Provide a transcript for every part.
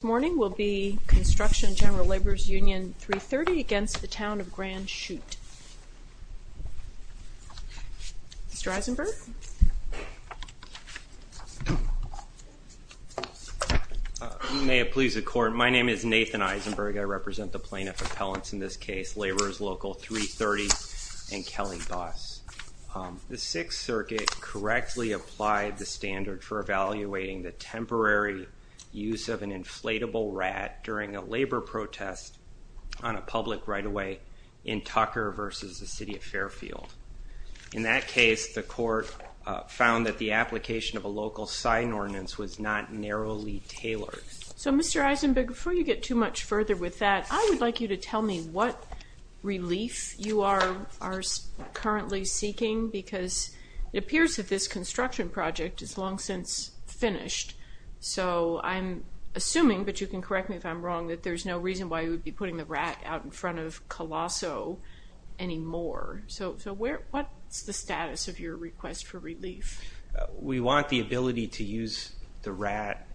This morning will be construction of General Labor's Union 330 against the Town of Grand Chute. Mr. Eisenberg? May it please the Court, my name is Nathan Eisenberg. I represent the plaintiff appellants in this case, Labor's Local 330 and Kelly Boss. The Sixth Circuit correctly applied the standard for evaluating the temporary use of an inflatable rat during a labor protest on a public right-of-way in Tucker versus the City of Fairfield. In that case, the Court found that the application of a local sign ordinance was not narrowly tailored. So Mr. Eisenberg, before you get too much further with that, I would like you to tell me what relief you are currently seeking because it appears that this construction project is long since finished. So I'm assuming, but you can correct me if I'm wrong, that there's no reason why you would be putting the rat out in front of Colosso anymore. So what's the status of your request for relief? We want the ability to use the rat,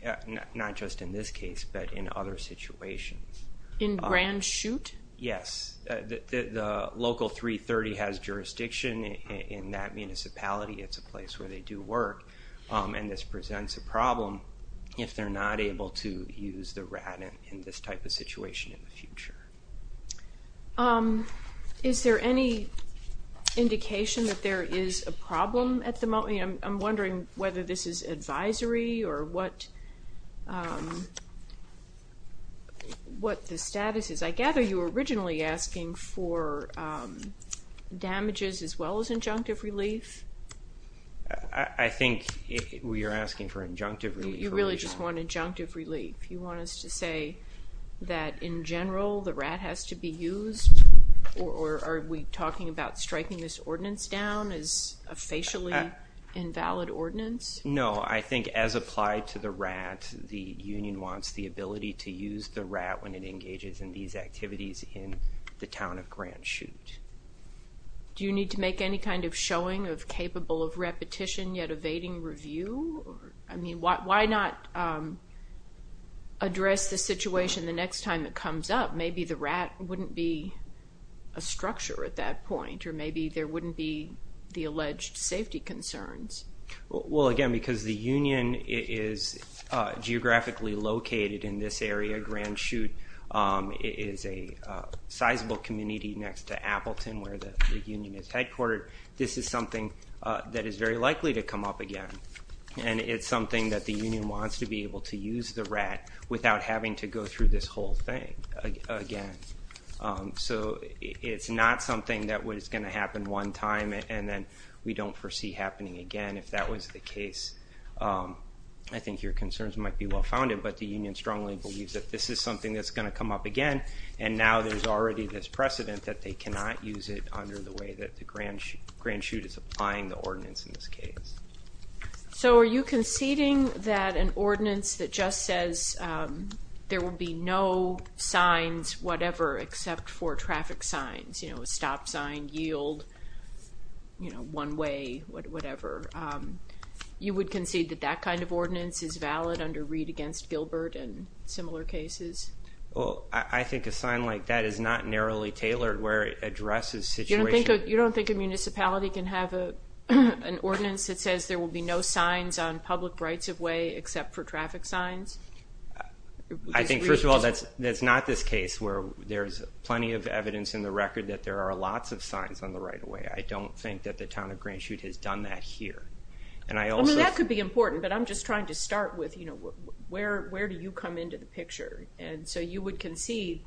not just in this case, but in other situations. In Grand Chute? Yes. The Local 330 has jurisdiction in that municipality. It's a place where they do work. And this presents a problem if they're not able to use the rat in this type of situation in the future. Is there any indication that there is a problem at the moment? I'm wondering whether this is advisory or what the status is. I gather you were originally asking for damages as well as injunctive relief? I think we are asking for injunctive relief. You really just want injunctive relief? You want us to say that in general the rat has to be used? Or are we talking about striking this ordinance down as a facially invalid ordinance? No, I think as applied to the rat, the union wants the ability to use the rat when it engages in these activities in the town of Grand Chute. Do you need to make any kind of showing of capable of repetition yet evading review? Why not address the situation the next time it comes up? Maybe the rat wouldn't be a structure at that point, or maybe there wouldn't be the alleged safety concerns. Well again, because the union is geographically located in this area, Grand Chute is a sizable community next to Appleton where the union is headquartered. This is something that is very likely to come up again. And it's something that the union wants to be able to use the rat without having to go through this whole thing again. So it's not something that was going to happen one time and then we don't foresee happening again. If that was the case, I think your concerns might be well founded. But the union strongly believes that this is something that's going to come up again. And now there's already this precedent that they cannot use it under the way that the Grand Chute is applying the ordinance in this case. So are you conceding that an ordinance that just says there will be no signs, whatever, except for traffic signs? You know, a stop sign, yield, one way, whatever. You would concede that that kind of ordinance is valid under Reed against Gilbert and similar cases? Well, I think a sign like that is not narrowly tailored where it addresses the situation. You don't think a municipality can have an ordinance that says there will be no signs on public rights-of-way except for traffic signs? I think, first of all, that's not this case where there's plenty of evidence in the record that there are lots of signs on the right-of-way. I don't think that the town of Grand Chute has done that here. I mean, that could be important, but I'm just trying to start with, you know, where do you come into the picture? And so you would concede,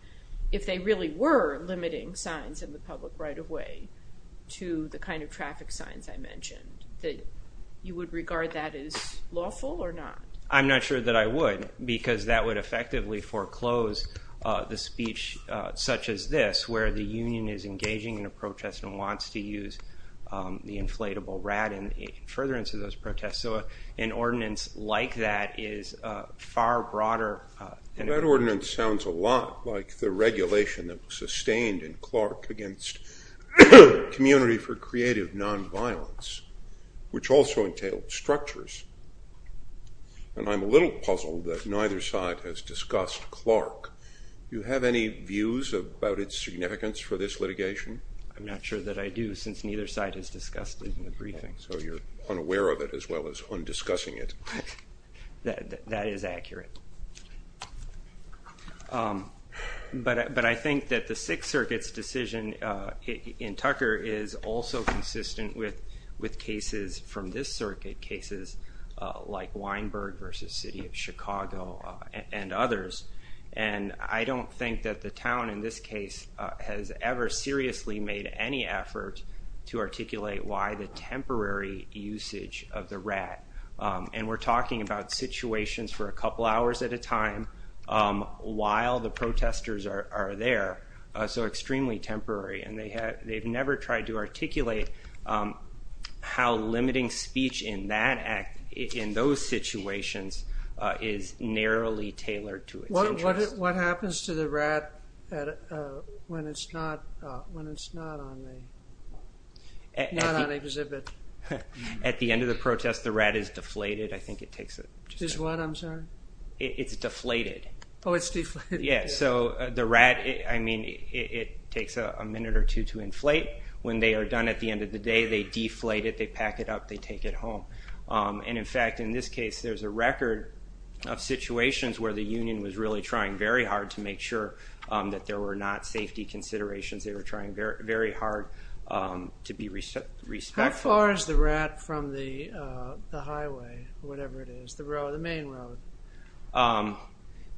if they really were limiting signs in the public right-of-way to the kind of traffic signs I mentioned, that you would regard that as lawful or not? I'm not sure that I would, because that would effectively foreclose the speech such as this, where the union is engaging in a protest and wants to use the inflatable rat in furtherance of those protests. So an ordinance like that is far broader. That ordinance sounds a lot like the regulation that was sustained in Clark against Community for Creative Nonviolence, which also entailed structures. And I'm a little puzzled that neither side has discussed Clark. Do you have any views about its significance for this litigation? I'm not sure that I do, since neither side has discussed it in the briefing. So you're unaware of it as well as undiscussing it. That is accurate. But I think that the Sixth Circuit's decision in Tucker is also consistent with cases from this circuit, cases like Weinberg v. City of Chicago and others. And I don't think that the town in this case has ever seriously made any effort to articulate why the temporary usage of the rat. And we're talking about situations for a couple hours at a time while the protesters are there, so extremely temporary. And they've never tried to articulate how limiting speech in those situations is narrowly tailored to its interest. What happens to the rat when it's not on exhibit? At the end of the protest, the rat is deflated. It's what, I'm sorry? Oh, it's deflated. Yeah, so the rat, I mean, it takes a minute or two to inflate. When they are done at the end of the day, they deflate it, they pack it up, they take it home. And in fact, in this case, there's a record of situations where the union was really trying very hard to make sure that there were not safety considerations. They were trying very hard to be respectful. How far is the rat from the highway, whatever it is, the road, the main road?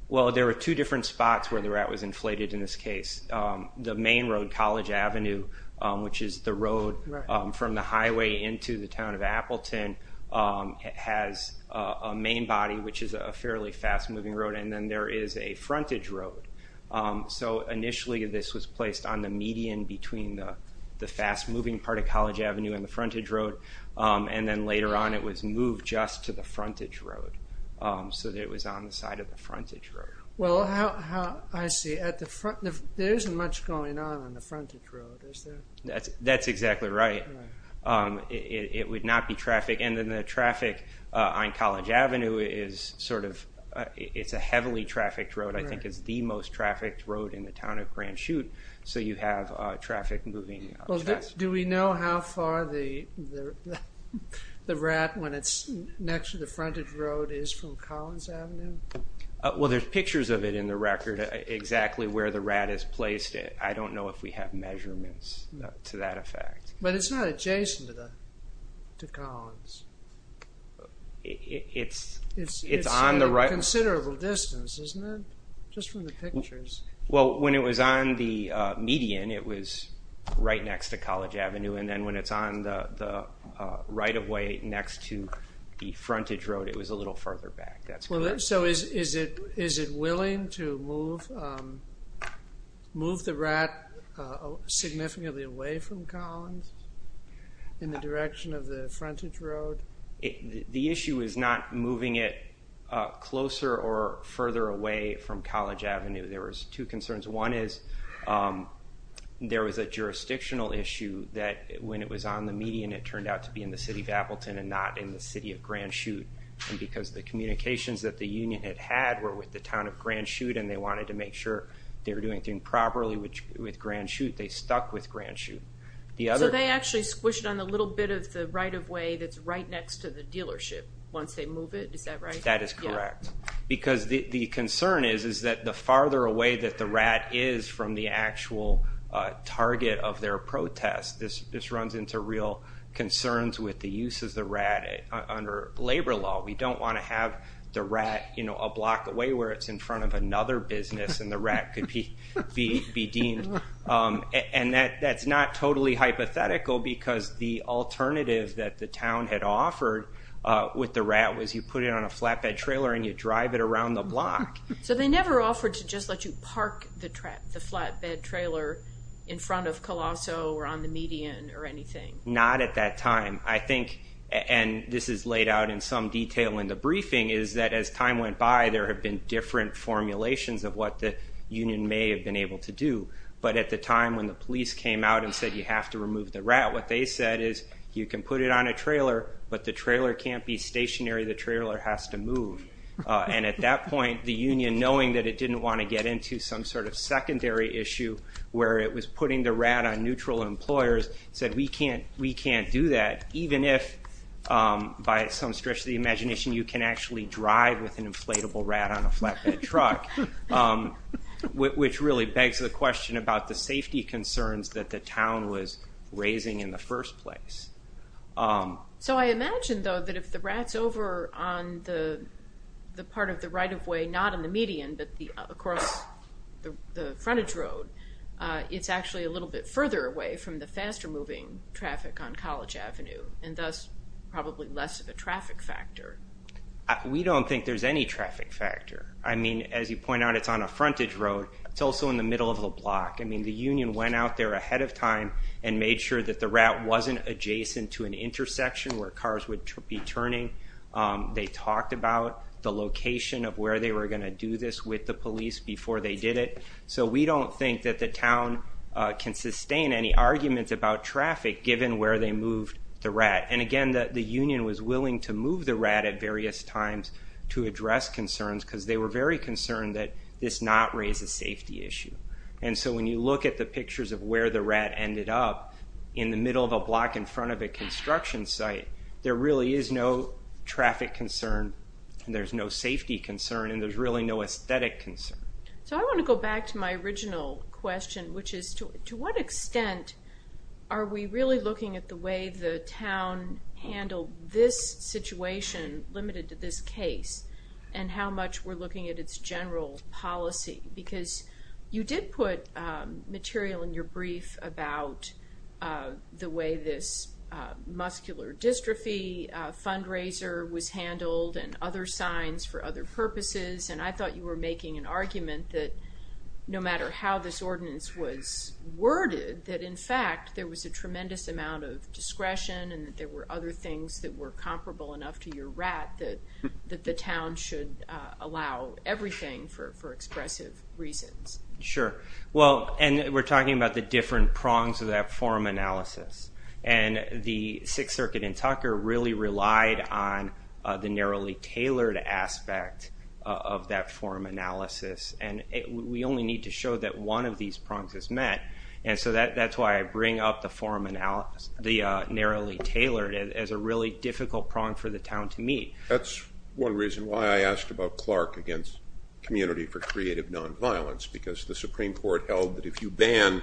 Well, there are two different spots where the rat was inflated in this case. The main road, College Avenue, which is the road from the highway into the town of Appleton, has a main body, which is a fairly fast-moving road. And then there is a frontage road. So initially, this was placed on the median between the fast-moving part of College Avenue and the frontage road. And then later on, it was moved just to the frontage road. So it was on the side of the frontage road. Well, I see. There isn't much going on on the frontage road, is there? That's exactly right. It would not be traffic. And then the traffic on College Avenue is sort of, it's a heavily trafficked road. I think it's the most trafficked road in the town of Grand Chute. So you have traffic moving fast. Do we know how far the rat, when it's next to the frontage road, is from College Avenue? Well, there's pictures of it in the record, exactly where the rat is placed. I don't know if we have measurements to that effect. But it's not adjacent to Collins. It's on the right. It's a considerable distance, isn't it? Just from the pictures. Well, when it was on the median, it was right next to College Avenue. And then when it's on the right-of-way next to the frontage road, it was a little further back. So is it willing to move the rat significantly away from Collins in the direction of the frontage road? The issue is not moving it closer or further away from College Avenue. There was two concerns. One is there was a jurisdictional issue that when it was on the median, it turned out to be in the city of Appleton and not in the city of Grand Chute. And because the communications that the union had had were with the town of Grand Chute and they wanted to make sure they were doing things properly with Grand Chute, they stuck with Grand Chute. So they actually squished it on the little bit of the right-of-way that's right next to the dealership once they move it. Is that right? That is correct. Because the concern is that the farther away that the rat is from the actual target of their protest, this runs into real concerns with the use of the rat under labor law. We don't want to have the rat a block away where it's in front of another business and the rat could be deemed. And that's not totally hypothetical because the alternative that the town had offered with the rat was you put it on a flatbed trailer and you drive it around the block. So they never offered to just let you park the flatbed trailer in front of Colosso or on the median or anything? Not at that time. I think, and this is laid out in some detail in the briefing, is that as time went by there had been different formulations of what the union may have been able to do. But at the time when the police came out and said you have to remove the rat, what they said is you can put it on a trailer, but the trailer can't be stationary. The trailer has to move. And at that point the union, knowing that it didn't want to get into some sort of secondary issue where it was putting the rat on neutral employers, said we can't do that, even if by some stretch of the imagination you can actually drive with an inflatable rat on a flatbed truck, which really begs the question about the safety concerns that the town was raising in the first place. So I imagine, though, that if the rat's over on the part of the right-of-way, not on the median but across the frontage road, it's actually a little bit further away from the faster-moving traffic on College Avenue and thus probably less of a traffic factor. We don't think there's any traffic factor. I mean, as you point out, it's on a frontage road. It's also in the middle of a block. I mean, the union went out there ahead of time and made sure that the rat wasn't adjacent to an intersection where cars would be turning. They talked about the location of where they were going to do this with the police before they did it. So we don't think that the town can sustain any arguments about traffic given where they moved the rat. And again, the union was willing to move the rat at various times to address concerns because they were very concerned that this not raise a safety issue. And so when you look at the pictures of where the rat ended up, in the middle of a block in front of a construction site, there really is no traffic concern and there's no safety concern and there's really no aesthetic concern. So I want to go back to my original question, which is, to what extent are we really looking at the way the town handled this situation, limited to this case, and how much we're looking at its general policy? Because you did put material in your brief about the way this muscular dystrophy fundraiser was handled and other signs for other purposes. And I thought you were making an argument that no matter how this ordinance was worded, that in fact there was a tremendous amount of discretion and that there were other things that were comparable enough to your rat that the town should allow everything for expressive reasons. Sure. Well, and we're talking about the different prongs of that forum analysis. And the Sixth Circuit in Tucker really relied on the narrowly tailored aspect of that forum analysis. And we only need to show that one of these prongs is met. And so that's why I bring up the narrowly tailored as a really difficult prong for the town to meet. That's one reason why I asked about Clark against Community for Creative Nonviolence, because the Supreme Court held that if you ban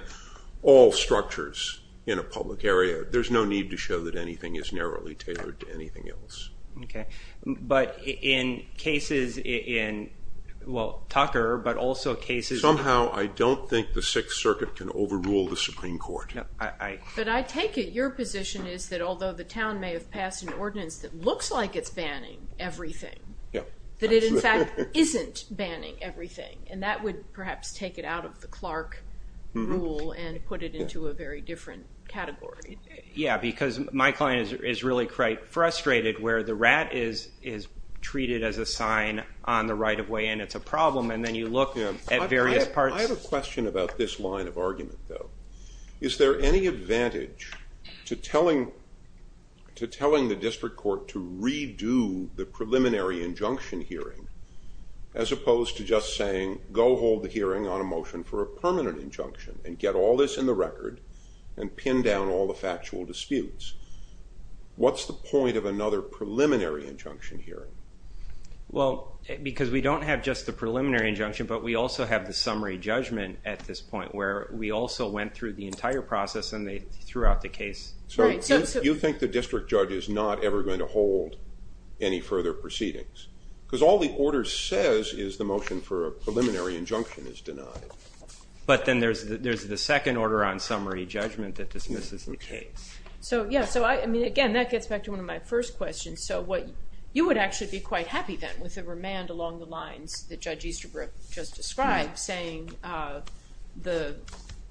all structures in a public area, there's no need to show that anything is narrowly tailored to anything else. Okay. But in cases in, well, Tucker, but also cases in- But I take it your position is that although the town may have passed an ordinance that looks like it's banning everything, that it in fact isn't banning everything. And that would perhaps take it out of the Clark rule and put it into a very different category. Yeah, because my client is really quite frustrated where the rat is treated as a sign on the right-of-way and it's a problem, and then you look at various parts. I have a question about this line of argument, though. Is there any advantage to telling the district court to redo the preliminary injunction hearing as opposed to just saying go hold the hearing on a motion for a permanent injunction and get all this in the record and pin down all the factual disputes? What's the point of another preliminary injunction hearing? Well, because we don't have just the preliminary injunction, but we also have the summary judgment at this point where we also went through the entire process and they threw out the case. So you think the district judge is not ever going to hold any further proceedings because all the order says is the motion for a preliminary injunction is denied. But then there's the second order on summary judgment that dismisses the case. So, yeah, I mean, again, that gets back to one of my first questions. So you would actually be quite happy then with the remand along the lines that Judge Easterbrook just described saying the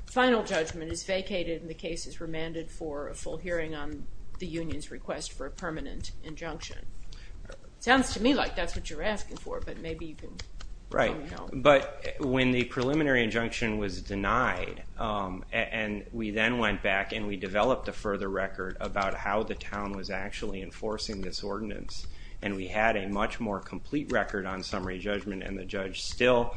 final judgment is vacated and the case is remanded for a full hearing on the union's request for a permanent injunction. It sounds to me like that's what you're asking for, but maybe you can tell me how. Right, but when the preliminary injunction was denied and we then went back and we developed a further record about how the town was actually enforcing this ordinance and we had a much more complete record on summary judgment and the judge still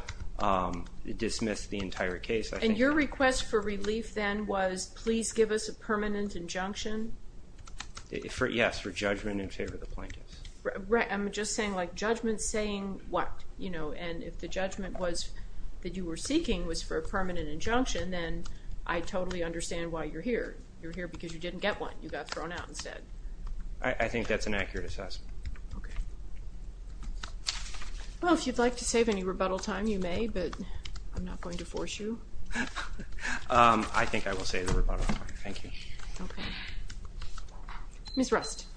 dismissed the entire case. And your request for relief then was please give us a permanent injunction? Yes, for judgment in favor of the plaintiffs. I'm just saying like judgment saying what? And if the judgment that you were seeking was for a permanent injunction, then I totally understand why you're here. You're here because you didn't get one. You got thrown out instead. I think that's an accurate assessment. Okay. Well, if you'd like to save any rebuttal time, you may, but I'm not going to force you. I think I will save the rebuttal time. Thank you. Okay. Ms. Rust.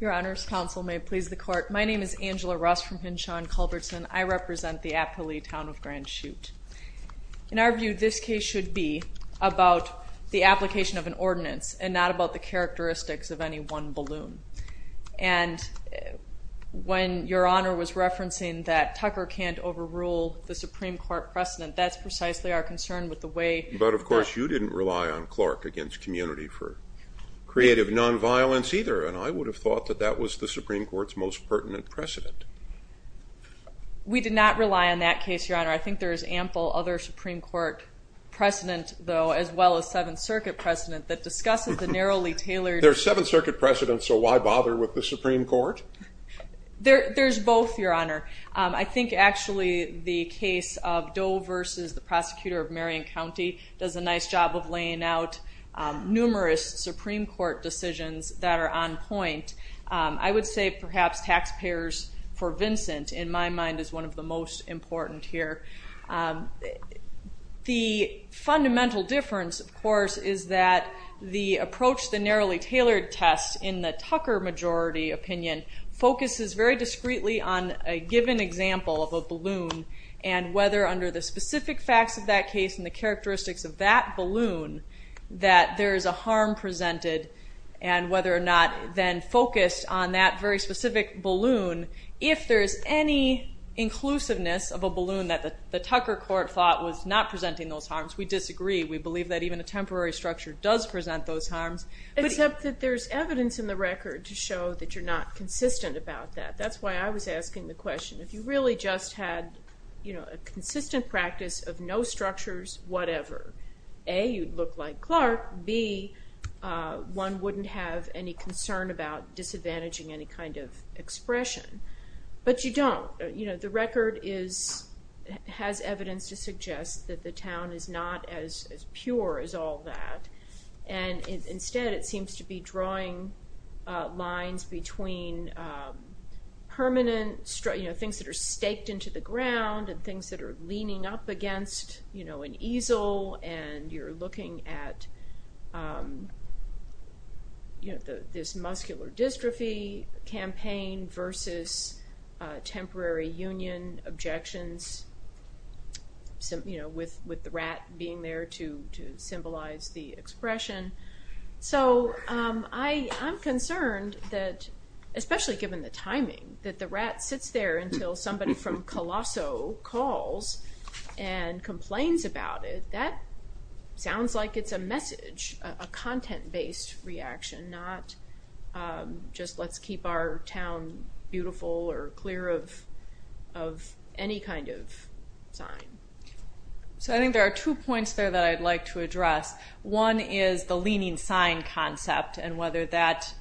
Your Honors, Counsel, may it please the Court. My name is Angela Rust from Hinshaw and Culbertson. I represent the Appali Town of Grand Chute. In our view, this case should be about the application of an ordinance and not about the characteristics of any one balloon. And when Your Honor was referencing that Tucker can't overrule the Supreme Court precedent, that's precisely our concern with the way. But, of course, you didn't rely on Clark against community for creative nonviolence either, and I would have thought that that was the Supreme Court's most pertinent precedent. We did not rely on that case, Your Honor. I think there is ample other Supreme Court precedent, though, as well as Seventh Circuit precedent that discusses the narrowly tailored. There's Seventh Circuit precedent, so why bother with the Supreme Court? There's both, Your Honor. I think, actually, the case of Doe versus the prosecutor of Marion County does a nice job of laying out numerous Supreme Court decisions that are on point. I would say perhaps taxpayers for Vincent, in my mind, is one of the most important here. The fundamental difference, of course, is that the approach, the narrowly tailored test, in the Tucker majority opinion, focuses very discreetly on a given example of a balloon and whether under the specific facts of that case and the characteristics of that balloon that there is a harm presented and whether or not then focused on that very specific balloon. If there is any inclusiveness of a balloon that the Tucker court thought was not presenting those harms, we disagree. Except that there's evidence in the record to show that you're not consistent about that. That's why I was asking the question. If you really just had a consistent practice of no structures, whatever, A, you'd look like Clark, B, one wouldn't have any concern about disadvantaging any kind of expression. But you don't. The record has evidence to suggest that the town is not as pure as all that. And instead it seems to be drawing lines between permanent things that are staked into the ground and things that are leaning up against an easel and you're looking at this muscular dystrophy campaign versus temporary union objections with the rat being there to symbolize the expression. So I'm concerned that, especially given the timing, that the rat sits there until somebody from Colosso calls and complains about it, that sounds like it's a message, a content-based reaction, not just let's keep our town beautiful or clear of any kind of sign. So I think there are two points there that I'd like to address. One is the leaning sign concept and whether that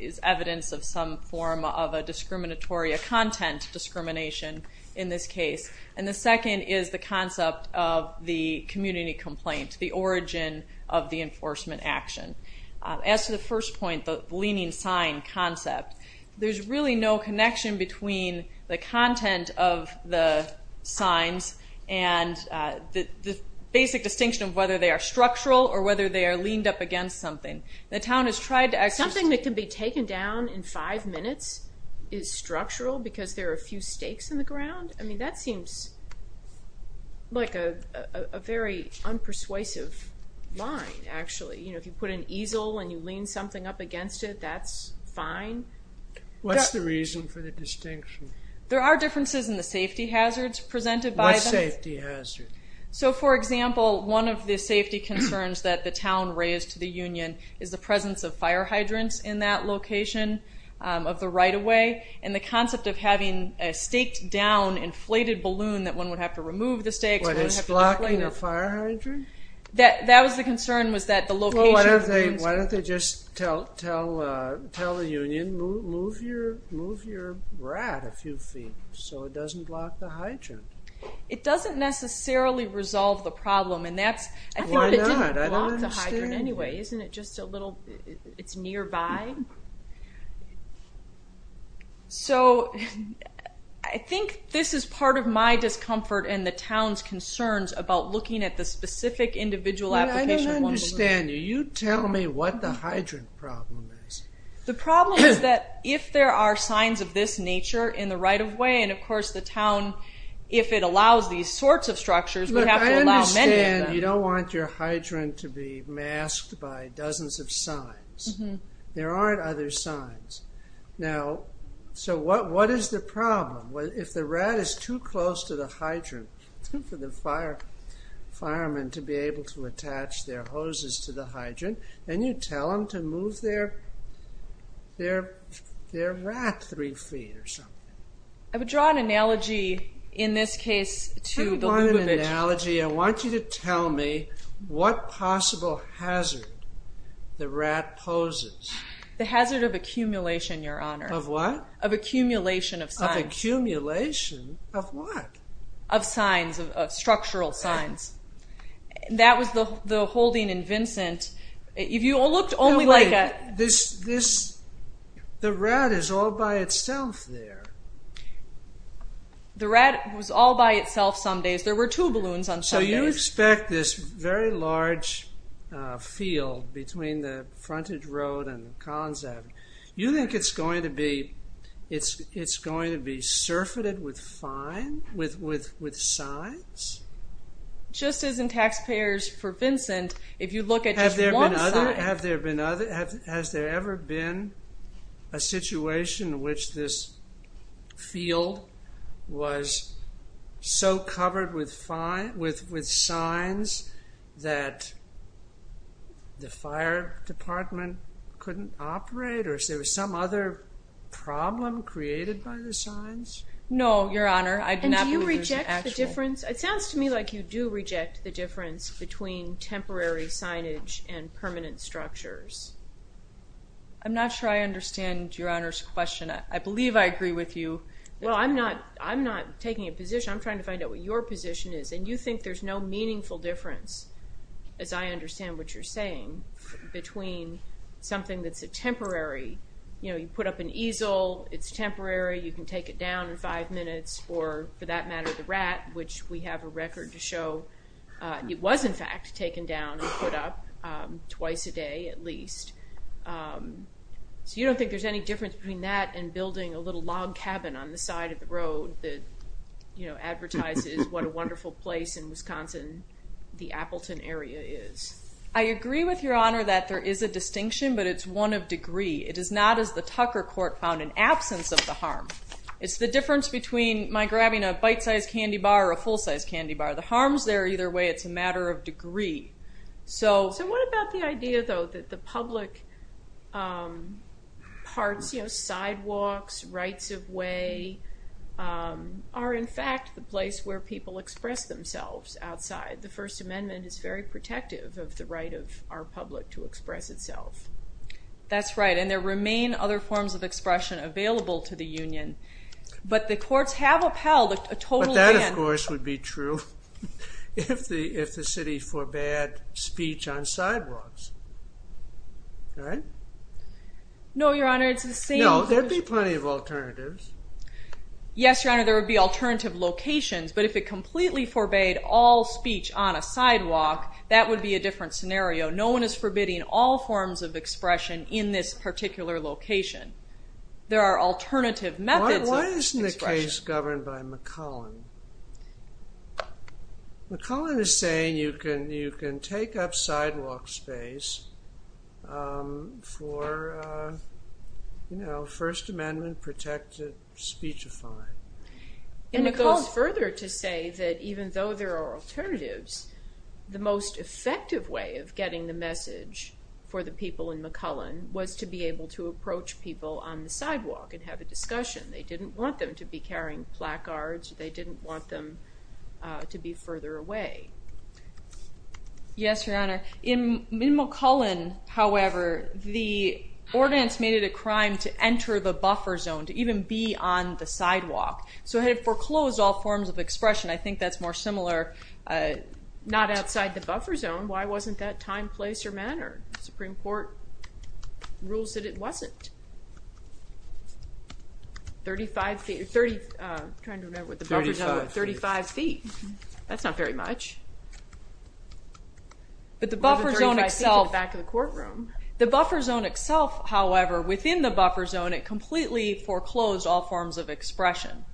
is evidence of some form of a discriminatory, a content discrimination in this case. And the second is the concept of the community complaint, the origin of the enforcement action. As to the first point, the leaning sign concept, there's really no connection between the content of the signs and the basic distinction of whether they are structural or whether they are leaned up against something. The town has tried to exercise... Something that can be taken down in five minutes is structural because there are a few stakes in the ground? I mean, that seems like a very unpersuasive line, actually. You know, if you put an easel and you lean something up against it, that's fine. What's the reason for the distinction? There are differences in the safety hazards presented by them. What safety hazards? So, for example, one of the safety concerns that the town raised to the union is the presence of fire hydrants in that location of the right-of-way and the concept of having a staked-down, inflated balloon that one would have to remove the stakes... What is blocking a fire hydrant? That was the concern, was that the location... Well, why don't they just tell the union, move your rat a few feet so it doesn't block the hydrant? It doesn't necessarily resolve the problem, and that's... Why not? I don't understand. I think it didn't block the hydrant anyway. Isn't it just a little... it's nearby? So, I think this is part of my discomfort and the town's concerns about looking at the specific individual application of one balloon. I don't understand you. You tell me what the hydrant problem is. The problem is that if there are signs of this nature in the right-of-way, and, of course, the town, if it allows these sorts of structures, we have to allow many of them. Look, I understand you don't want your hydrant to be masked by dozens of signs. There aren't other signs. Now, so what is the problem? If the rat is too close to the hydrant for the firemen to be able to attach their hoses to the hydrant, then you tell them to move their rat three feet or something. I would draw an analogy, in this case, to the Lubavitch. I don't want an analogy. I want you to tell me what possible hazard the rat poses. The hazard of accumulation, Your Honor. Of what? Of accumulation of signs. Of accumulation of what? Of signs, of structural signs. That was the holding in Vincent. If you looked only like a... No, wait. The rat is all by itself there. The rat was all by itself some days. There were two balloons on some days. So you expect this very large field between the frontage road and Collins Avenue. You think it's going to be surfeited with signs? Just as in taxpayers for Vincent, if you look at just one sign. Has there ever been a situation in which this field was so covered with signs that the fire department couldn't operate? Or is there some other problem created by the signs? No, Your Honor. And do you reject the difference? It sounds to me like you do reject the difference between temporary signage and permanent structures. I'm not sure I understand Your Honor's question. I believe I agree with you. Well, I'm not taking a position. I'm trying to find out what your position is. And you think there's no meaningful difference, as I understand what you're saying, between something that's a temporary. You put up an easel. It's temporary. You can take it down in five minutes. Or, for that matter, the rat, which we have a record to show it was, in fact, taken down and put up twice a day at least. So you don't think there's any difference between that and building a little log cabin on the side of the road that advertises what a wonderful place in Wisconsin, the Appleton area, is? I agree with Your Honor that there is a distinction, but it's one of degree. It is not, as the Tucker Court found, an absence of the harm. It's the difference between my grabbing a bite-sized candy bar or a full-sized candy bar. The harm's there either way. It's a matter of degree. So what about the idea, though, that the public parts, you know, sidewalks, rights-of-way are, in fact, the place where people express themselves outside? The First Amendment is very protective of the right of our public to express itself. That's right, and there remain other forms of expression available to the union, but the courts have upheld a total ban. But that, of course, would be true if the city forbade speech on sidewalks. Right? No, Your Honor, it's the same. No, there would be plenty of alternatives. Yes, Your Honor, there would be alternative locations, but if it completely forbade all speech on a sidewalk, that would be a different scenario. No one is forbidding all forms of expression in this particular location. There are alternative methods of expression. Why isn't the case governed by McClellan? McClellan is saying you can take up sidewalk space for, you know, First Amendment-protected speech-defined. And it goes further to say that even though there are alternatives, the most effective way of getting the message for the people in McClellan was to be able to approach people on the sidewalk and have a discussion. They didn't want them to be carrying placards. They didn't want them to be further away. Yes, Your Honor. In McClellan, however, the ordinance made it a crime to enter the buffer zone, to even be on the sidewalk. So it had foreclosed all forms of expression. I think that's more similar, not outside the buffer zone. Why wasn't that time, place, or manner? The Supreme Court rules that it wasn't. Thirty-five feet. I'm trying to remember what the buffer zone was. Thirty-five feet. Thirty-five feet. That's not very much. But the buffer zone itself. Or the 35 feet at the back of the courtroom. The buffer zone itself, however, within the buffer zone, it completely foreclosed all forms of expression.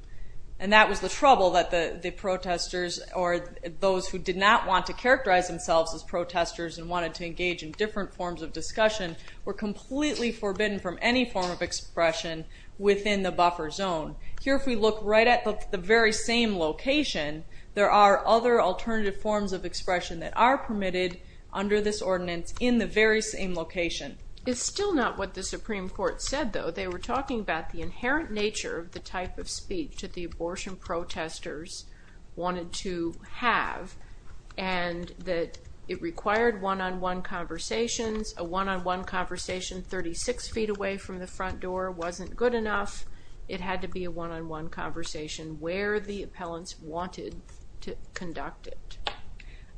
And that was the trouble that the protesters, or those who did not want to characterize themselves as protesters and wanted to engage in different forms of discussion, were completely forbidden from any form of expression within the buffer zone. Here, if we look right at the very same location, there are other alternative forms of expression that are permitted under this ordinance in the very same location. It's still not what the Supreme Court said, though. They were talking about the inherent nature of the type of speech that the abortion protesters wanted to have, and that it required one-on-one conversations. A one-on-one conversation 36 feet away from the front door wasn't good enough. It had to be a one-on-one conversation where the appellants wanted to conduct it.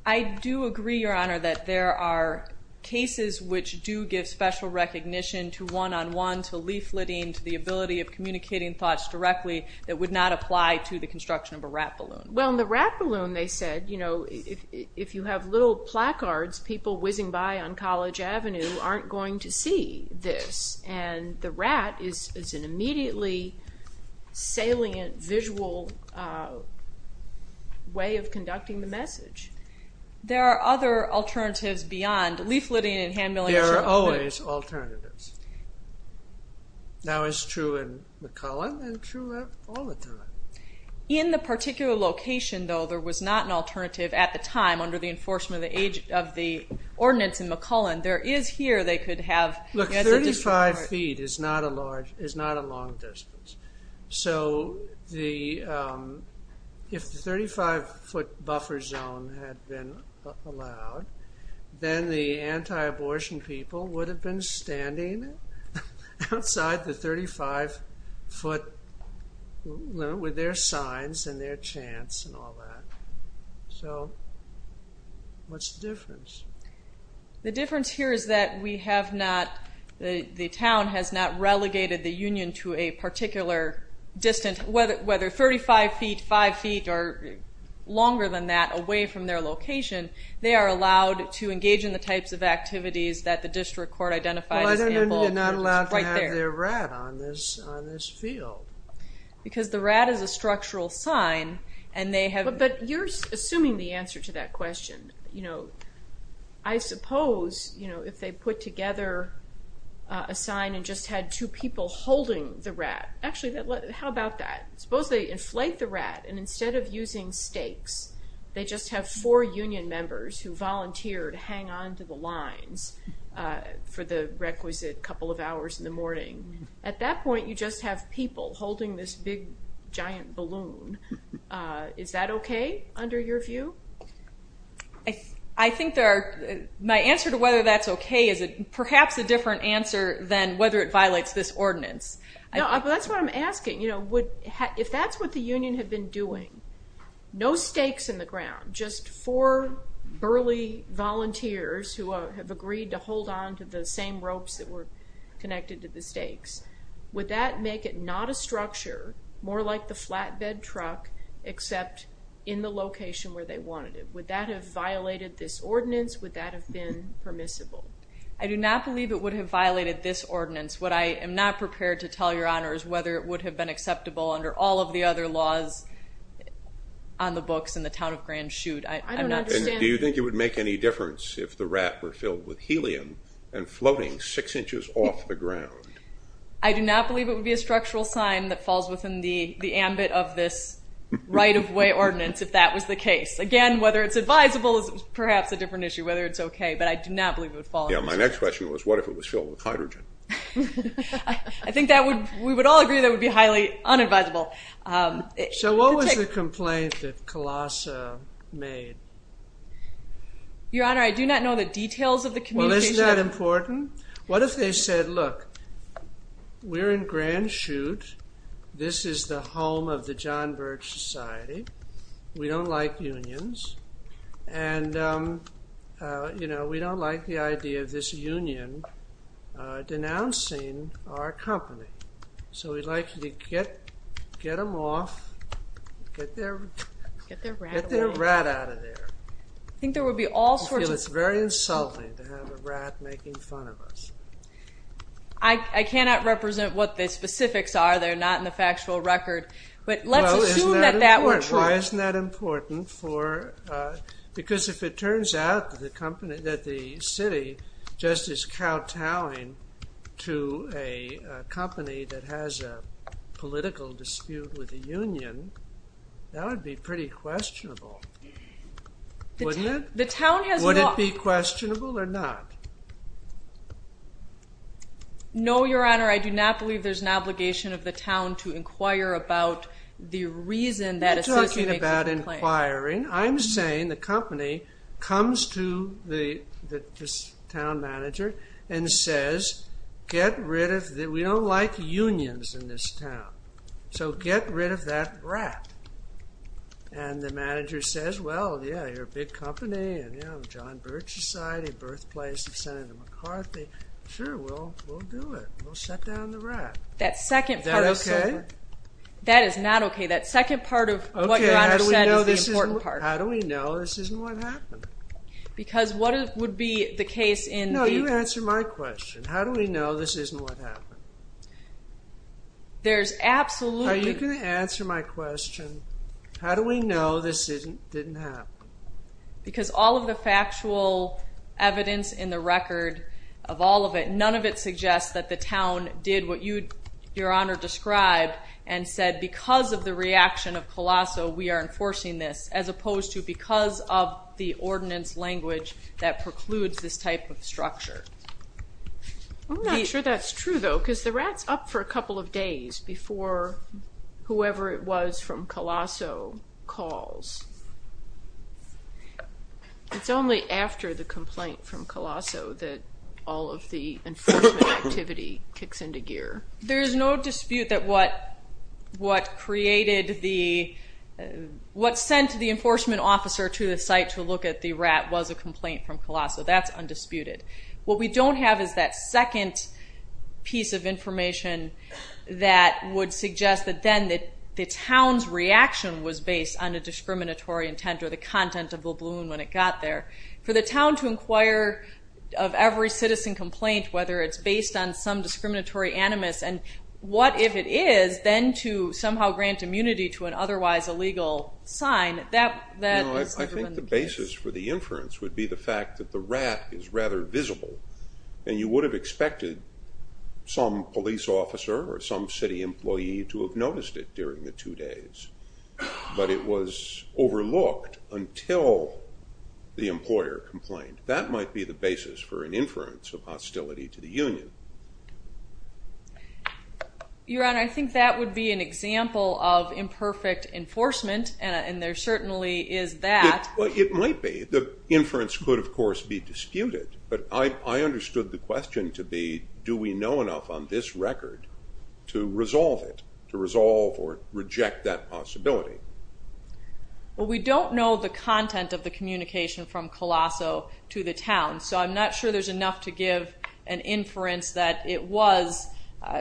I do agree, Your Honor, that there are cases which do give special recognition to one-on-one, to leafleting, to the ability of communicating thoughts directly that would not apply to the construction of a rat balloon. Well, in the rat balloon, they said, you know, if you have little placards, people whizzing by on College Avenue aren't going to see this, and the rat is an immediately salient visual way of conducting the message. There are other alternatives beyond leafleting and hand milling. There are always alternatives. That was true in McCollum and true all the time. In the particular location, though, there was not an alternative at the time under the enforcement of the ordinance in McCollum. There is here they could have as a different part. Look, 35 feet is not a long distance. So if the 35-foot buffer zone had been allowed, then the anti-abortion people would have been standing outside the 35-foot limit with their signs and their chants and all that. So what's the difference? The difference here is that we have not, the town has not relegated the union to a particular distance, whether 35 feet, 5 feet, or longer than that away from their location. They are allowed to engage in the types of activities that the district court identified as involving right there. Well, I don't know that they're not allowed to have their rat on this field. Because the rat is a structural sign. But you're assuming the answer to that question. I suppose if they put together a sign and just had two people holding the rat, actually, how about that? Suppose they inflate the rat, and instead of using stakes, they just have four union members who volunteer to hang on to the lines for the requisite couple of hours in the morning. At that point, you just have people holding this big, giant balloon. Is that okay under your view? I think there are, my answer to whether that's okay is perhaps a different answer than whether it violates this ordinance. No, but that's what I'm asking. If that's what the union had been doing, no stakes in the ground, just four burly volunteers who have agreed to hold on to the same ropes that were connected to the stakes, would that make it not a structure, more like the flatbed truck, except in the location where they wanted it? Would that have violated this ordinance? Would that have been permissible? I do not believe it would have violated this ordinance. What I am not prepared to tell Your Honors, whether it would have been acceptable under all of the other laws on the books in the town of Grand Chute. Do you think it would make any difference if the rat were filled with helium and floating six inches off the ground? I do not believe it would be a structural sign that falls within the ambit of this right-of-way ordinance if that was the case. Again, whether it's advisable is perhaps a different issue, whether it's okay, but I do not believe it would fall under that. Yeah, my next question was what if it was filled with hydrogen? I think we would all agree that would be highly unadvisable. So what was the complaint that Colossa made? Your Honor, I do not know the details of the communication. Well, isn't that important? What if they said, look, we're in Grand Chute, this is the home of the John Birch Society, we don't like unions, and we don't like the idea of this union denouncing our company. So we'd like you to get them off, get their rat out of there. I think there would be all sorts of... It's very insulting to have a rat making fun of us. I cannot represent what the specifics are. They're not in the factual record. But let's assume that that were true. Well, isn't that important? Because if it turns out that the city just is kowtowing to a company that has a political dispute with a union, that would be pretty questionable, wouldn't it? The town has not... Would it be questionable or not? No, Your Honor, I do not believe there's an obligation of the town to inquire about the reason that association... You're talking about inquiring. I'm saying the company comes to the town manager and says, get rid of... We don't like unions in this town. So get rid of that rat. And the manager says, well, yeah, you're a big company, and, you know, John Birch Society, birthplace of Senator McCarthy. Sure, we'll do it. We'll set down the rat. Is that okay? That is not okay. That second part of what Your Honor said is the important part. How do we know this isn't what happened? Because what would be the case in the... How do you answer my question? How do we know this isn't what happened? There's absolutely... How are you going to answer my question? How do we know this didn't happen? Because all of the factual evidence in the record of all of it, none of it suggests that the town did what Your Honor described and said because of the reaction of Colosso, we are enforcing this, as opposed to because of the ordinance language that precludes this type of structure. I'm not sure that's true, though, because the rat's up for a couple of days before whoever it was from Colosso calls. It's only after the complaint from Colosso that all of the enforcement activity kicks into gear. There is no dispute that what created the... complaint from Colosso, that's undisputed. What we don't have is that second piece of information that would suggest that then the town's reaction was based on a discriminatory intent or the content of the balloon when it got there. For the town to inquire of every citizen complaint, whether it's based on some discriminatory animus, and what if it is, then to somehow grant immunity to an otherwise illegal sign, that has never been the case. The basis for the inference would be the fact that the rat is rather visible, and you would have expected some police officer or some city employee to have noticed it during the two days, but it was overlooked until the employer complained. That might be the basis for an inference of hostility to the union. Your Honor, I think that would be an example of imperfect enforcement, and there certainly is that. Well, it might be. The inference could, of course, be disputed, but I understood the question to be do we know enough on this record to resolve it, to resolve or reject that possibility. Well, we don't know the content of the communication from Colosso to the town, so I'm not sure there's enough to give an inference that it was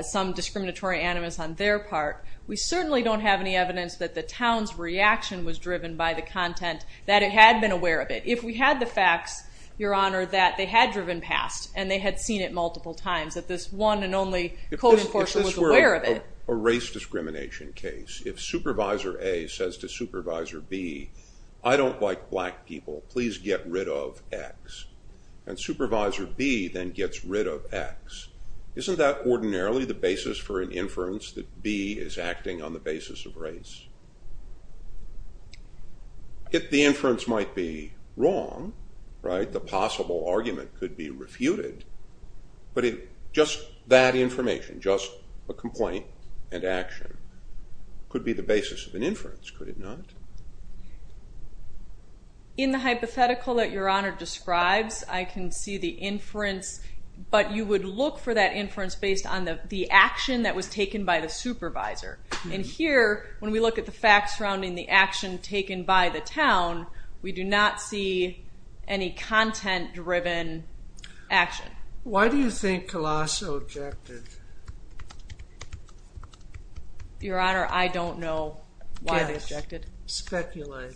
some discriminatory animus on their part. We certainly don't have any evidence that the town's reaction was driven by the content that it had been aware of it. If we had the facts, Your Honor, that they had driven past and they had seen it multiple times, that this one and only code enforcer was aware of it. If this were a race discrimination case, if Supervisor A says to Supervisor B, I don't like black people, please get rid of X, and Supervisor B then gets rid of X, isn't that ordinarily the basis for an inference that B is acting on the basis of race? If the inference might be wrong, right, the possible argument could be refuted, but if just that information, just a complaint and action, could be the basis of an inference, could it not? In the hypothetical that Your Honor describes, I can see the inference, but you would look for that inference based on the action that was taken by the supervisor. Here, when we look at the facts surrounding the action taken by the town, we do not see any content-driven action. Why do you think Colosso objected? Your Honor, I don't know why they objected. Yes, speculate.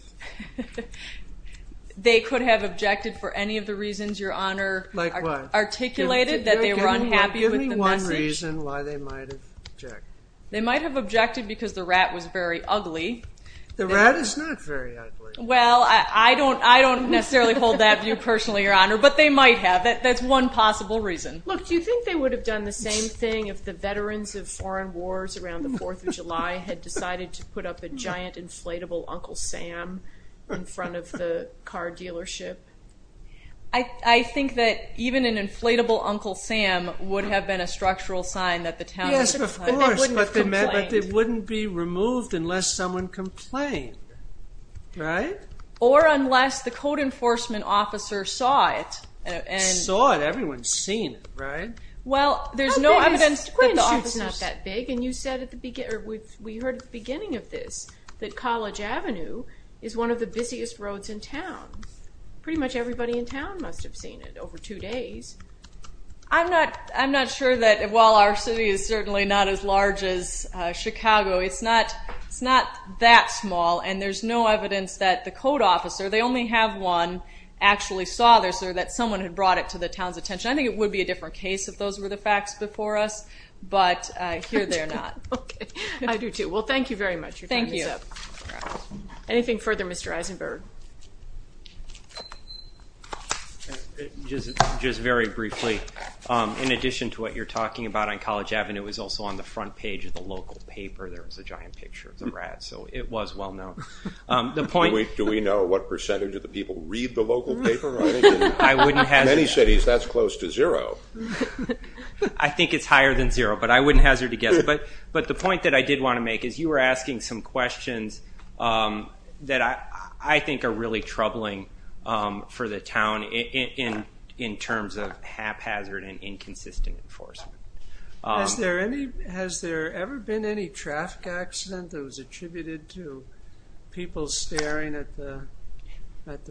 They could have objected for any of the reasons Your Honor articulated, that they were unhappy with the message. Give me one reason why they might have objected. They might have objected because the rat was very ugly. The rat is not very ugly. Well, I don't necessarily hold that view personally, Your Honor, but they might have. That's one possible reason. Look, do you think they would have done the same thing if the veterans of foreign wars around the 4th of July had decided to put up a giant inflatable Uncle Sam in front of the car dealership? I think that even an inflatable Uncle Sam would have been a structural sign that the town wouldn't complain. Yes, of course, but it wouldn't be removed unless someone complained, right? Or unless the code enforcement officer saw it. Saw it. Everyone's seen it, right? Well, there's no evidence that the officer saw it. How big is Queens Street? It's not that big, and you said at the beginning, or we heard at the beginning of this, that College Avenue is one of the busiest roads in town. Pretty much everybody in town must have seen it over two days. I'm not sure that while our city is certainly not as large as Chicago, it's not that small, and there's no evidence that the code officer, they only have one, actually saw this or that someone had brought it to the town's attention. I think it would be a different case if those were the facts before us, but here they're not. Okay. I do, too. Well, thank you very much. Thank you. Anything further, Mr. Eisenberg? Just very briefly, in addition to what you're talking about on College Avenue, it was also on the front page of the local paper. There was a giant picture of the rats, so it was well known. Do we know what percentage of the people read the local paper? I wouldn't hazard to guess. In many cities, that's close to zero. I think it's higher than zero, but I wouldn't hazard to guess. But the point that I did want to make is you were asking some questions that I think are really troubling for the town in terms of haphazard and inconsistent enforcement. Has there ever been any traffic accident that was attributed to people staring at the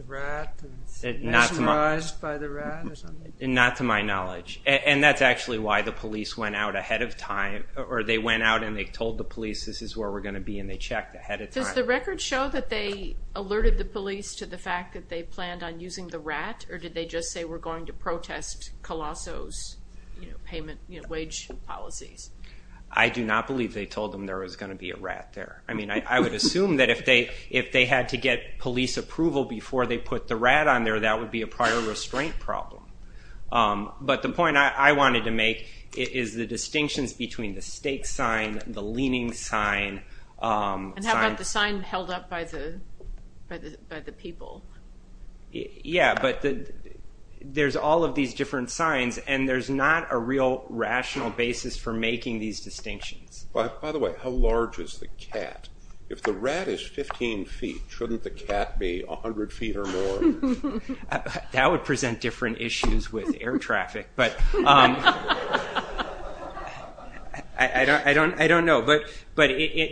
rat and mesmerized by the rat? Not to my knowledge. And that's actually why the police went out ahead of time, or they went out and they told the police, this is where we're going to be, and they checked ahead of time. Does the record show that they alerted the police to the fact that they planned on using the rat, or did they just say we're going to protest Colosso's wage policies? I do not believe they told them there was going to be a rat there. I would assume that if they had to get police approval before they put the rat on there, that would be a prior restraint problem. But the point I wanted to make is the distinctions between the stake sign, the leaning sign. And how about the sign held up by the people? Yeah, but there's all of these different signs, and there's not a real rational basis for making these distinctions. By the way, how large is the cat? If the rat is 15 feet, shouldn't the cat be 100 feet or more? That would present different issues with air traffic. But I don't know. But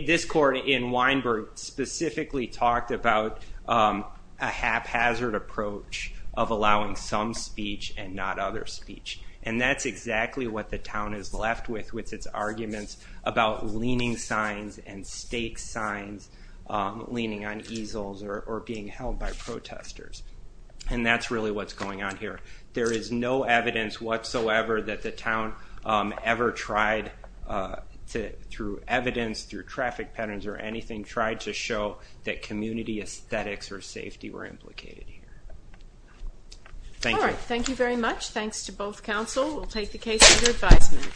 this court in Weinberg specifically talked about a haphazard approach of allowing some speech and not other speech. And that's exactly what the town is left with with its arguments about leaning signs and stake signs, leaning on easels or being held by protesters. And that's really what's going on here. There is no evidence whatsoever that the town ever tried, through evidence, through traffic patterns or anything, tried to show that community aesthetics or safety were implicated here. Thank you. All right, thank you very much. Thanks to both counsel. We'll take the case under advisement.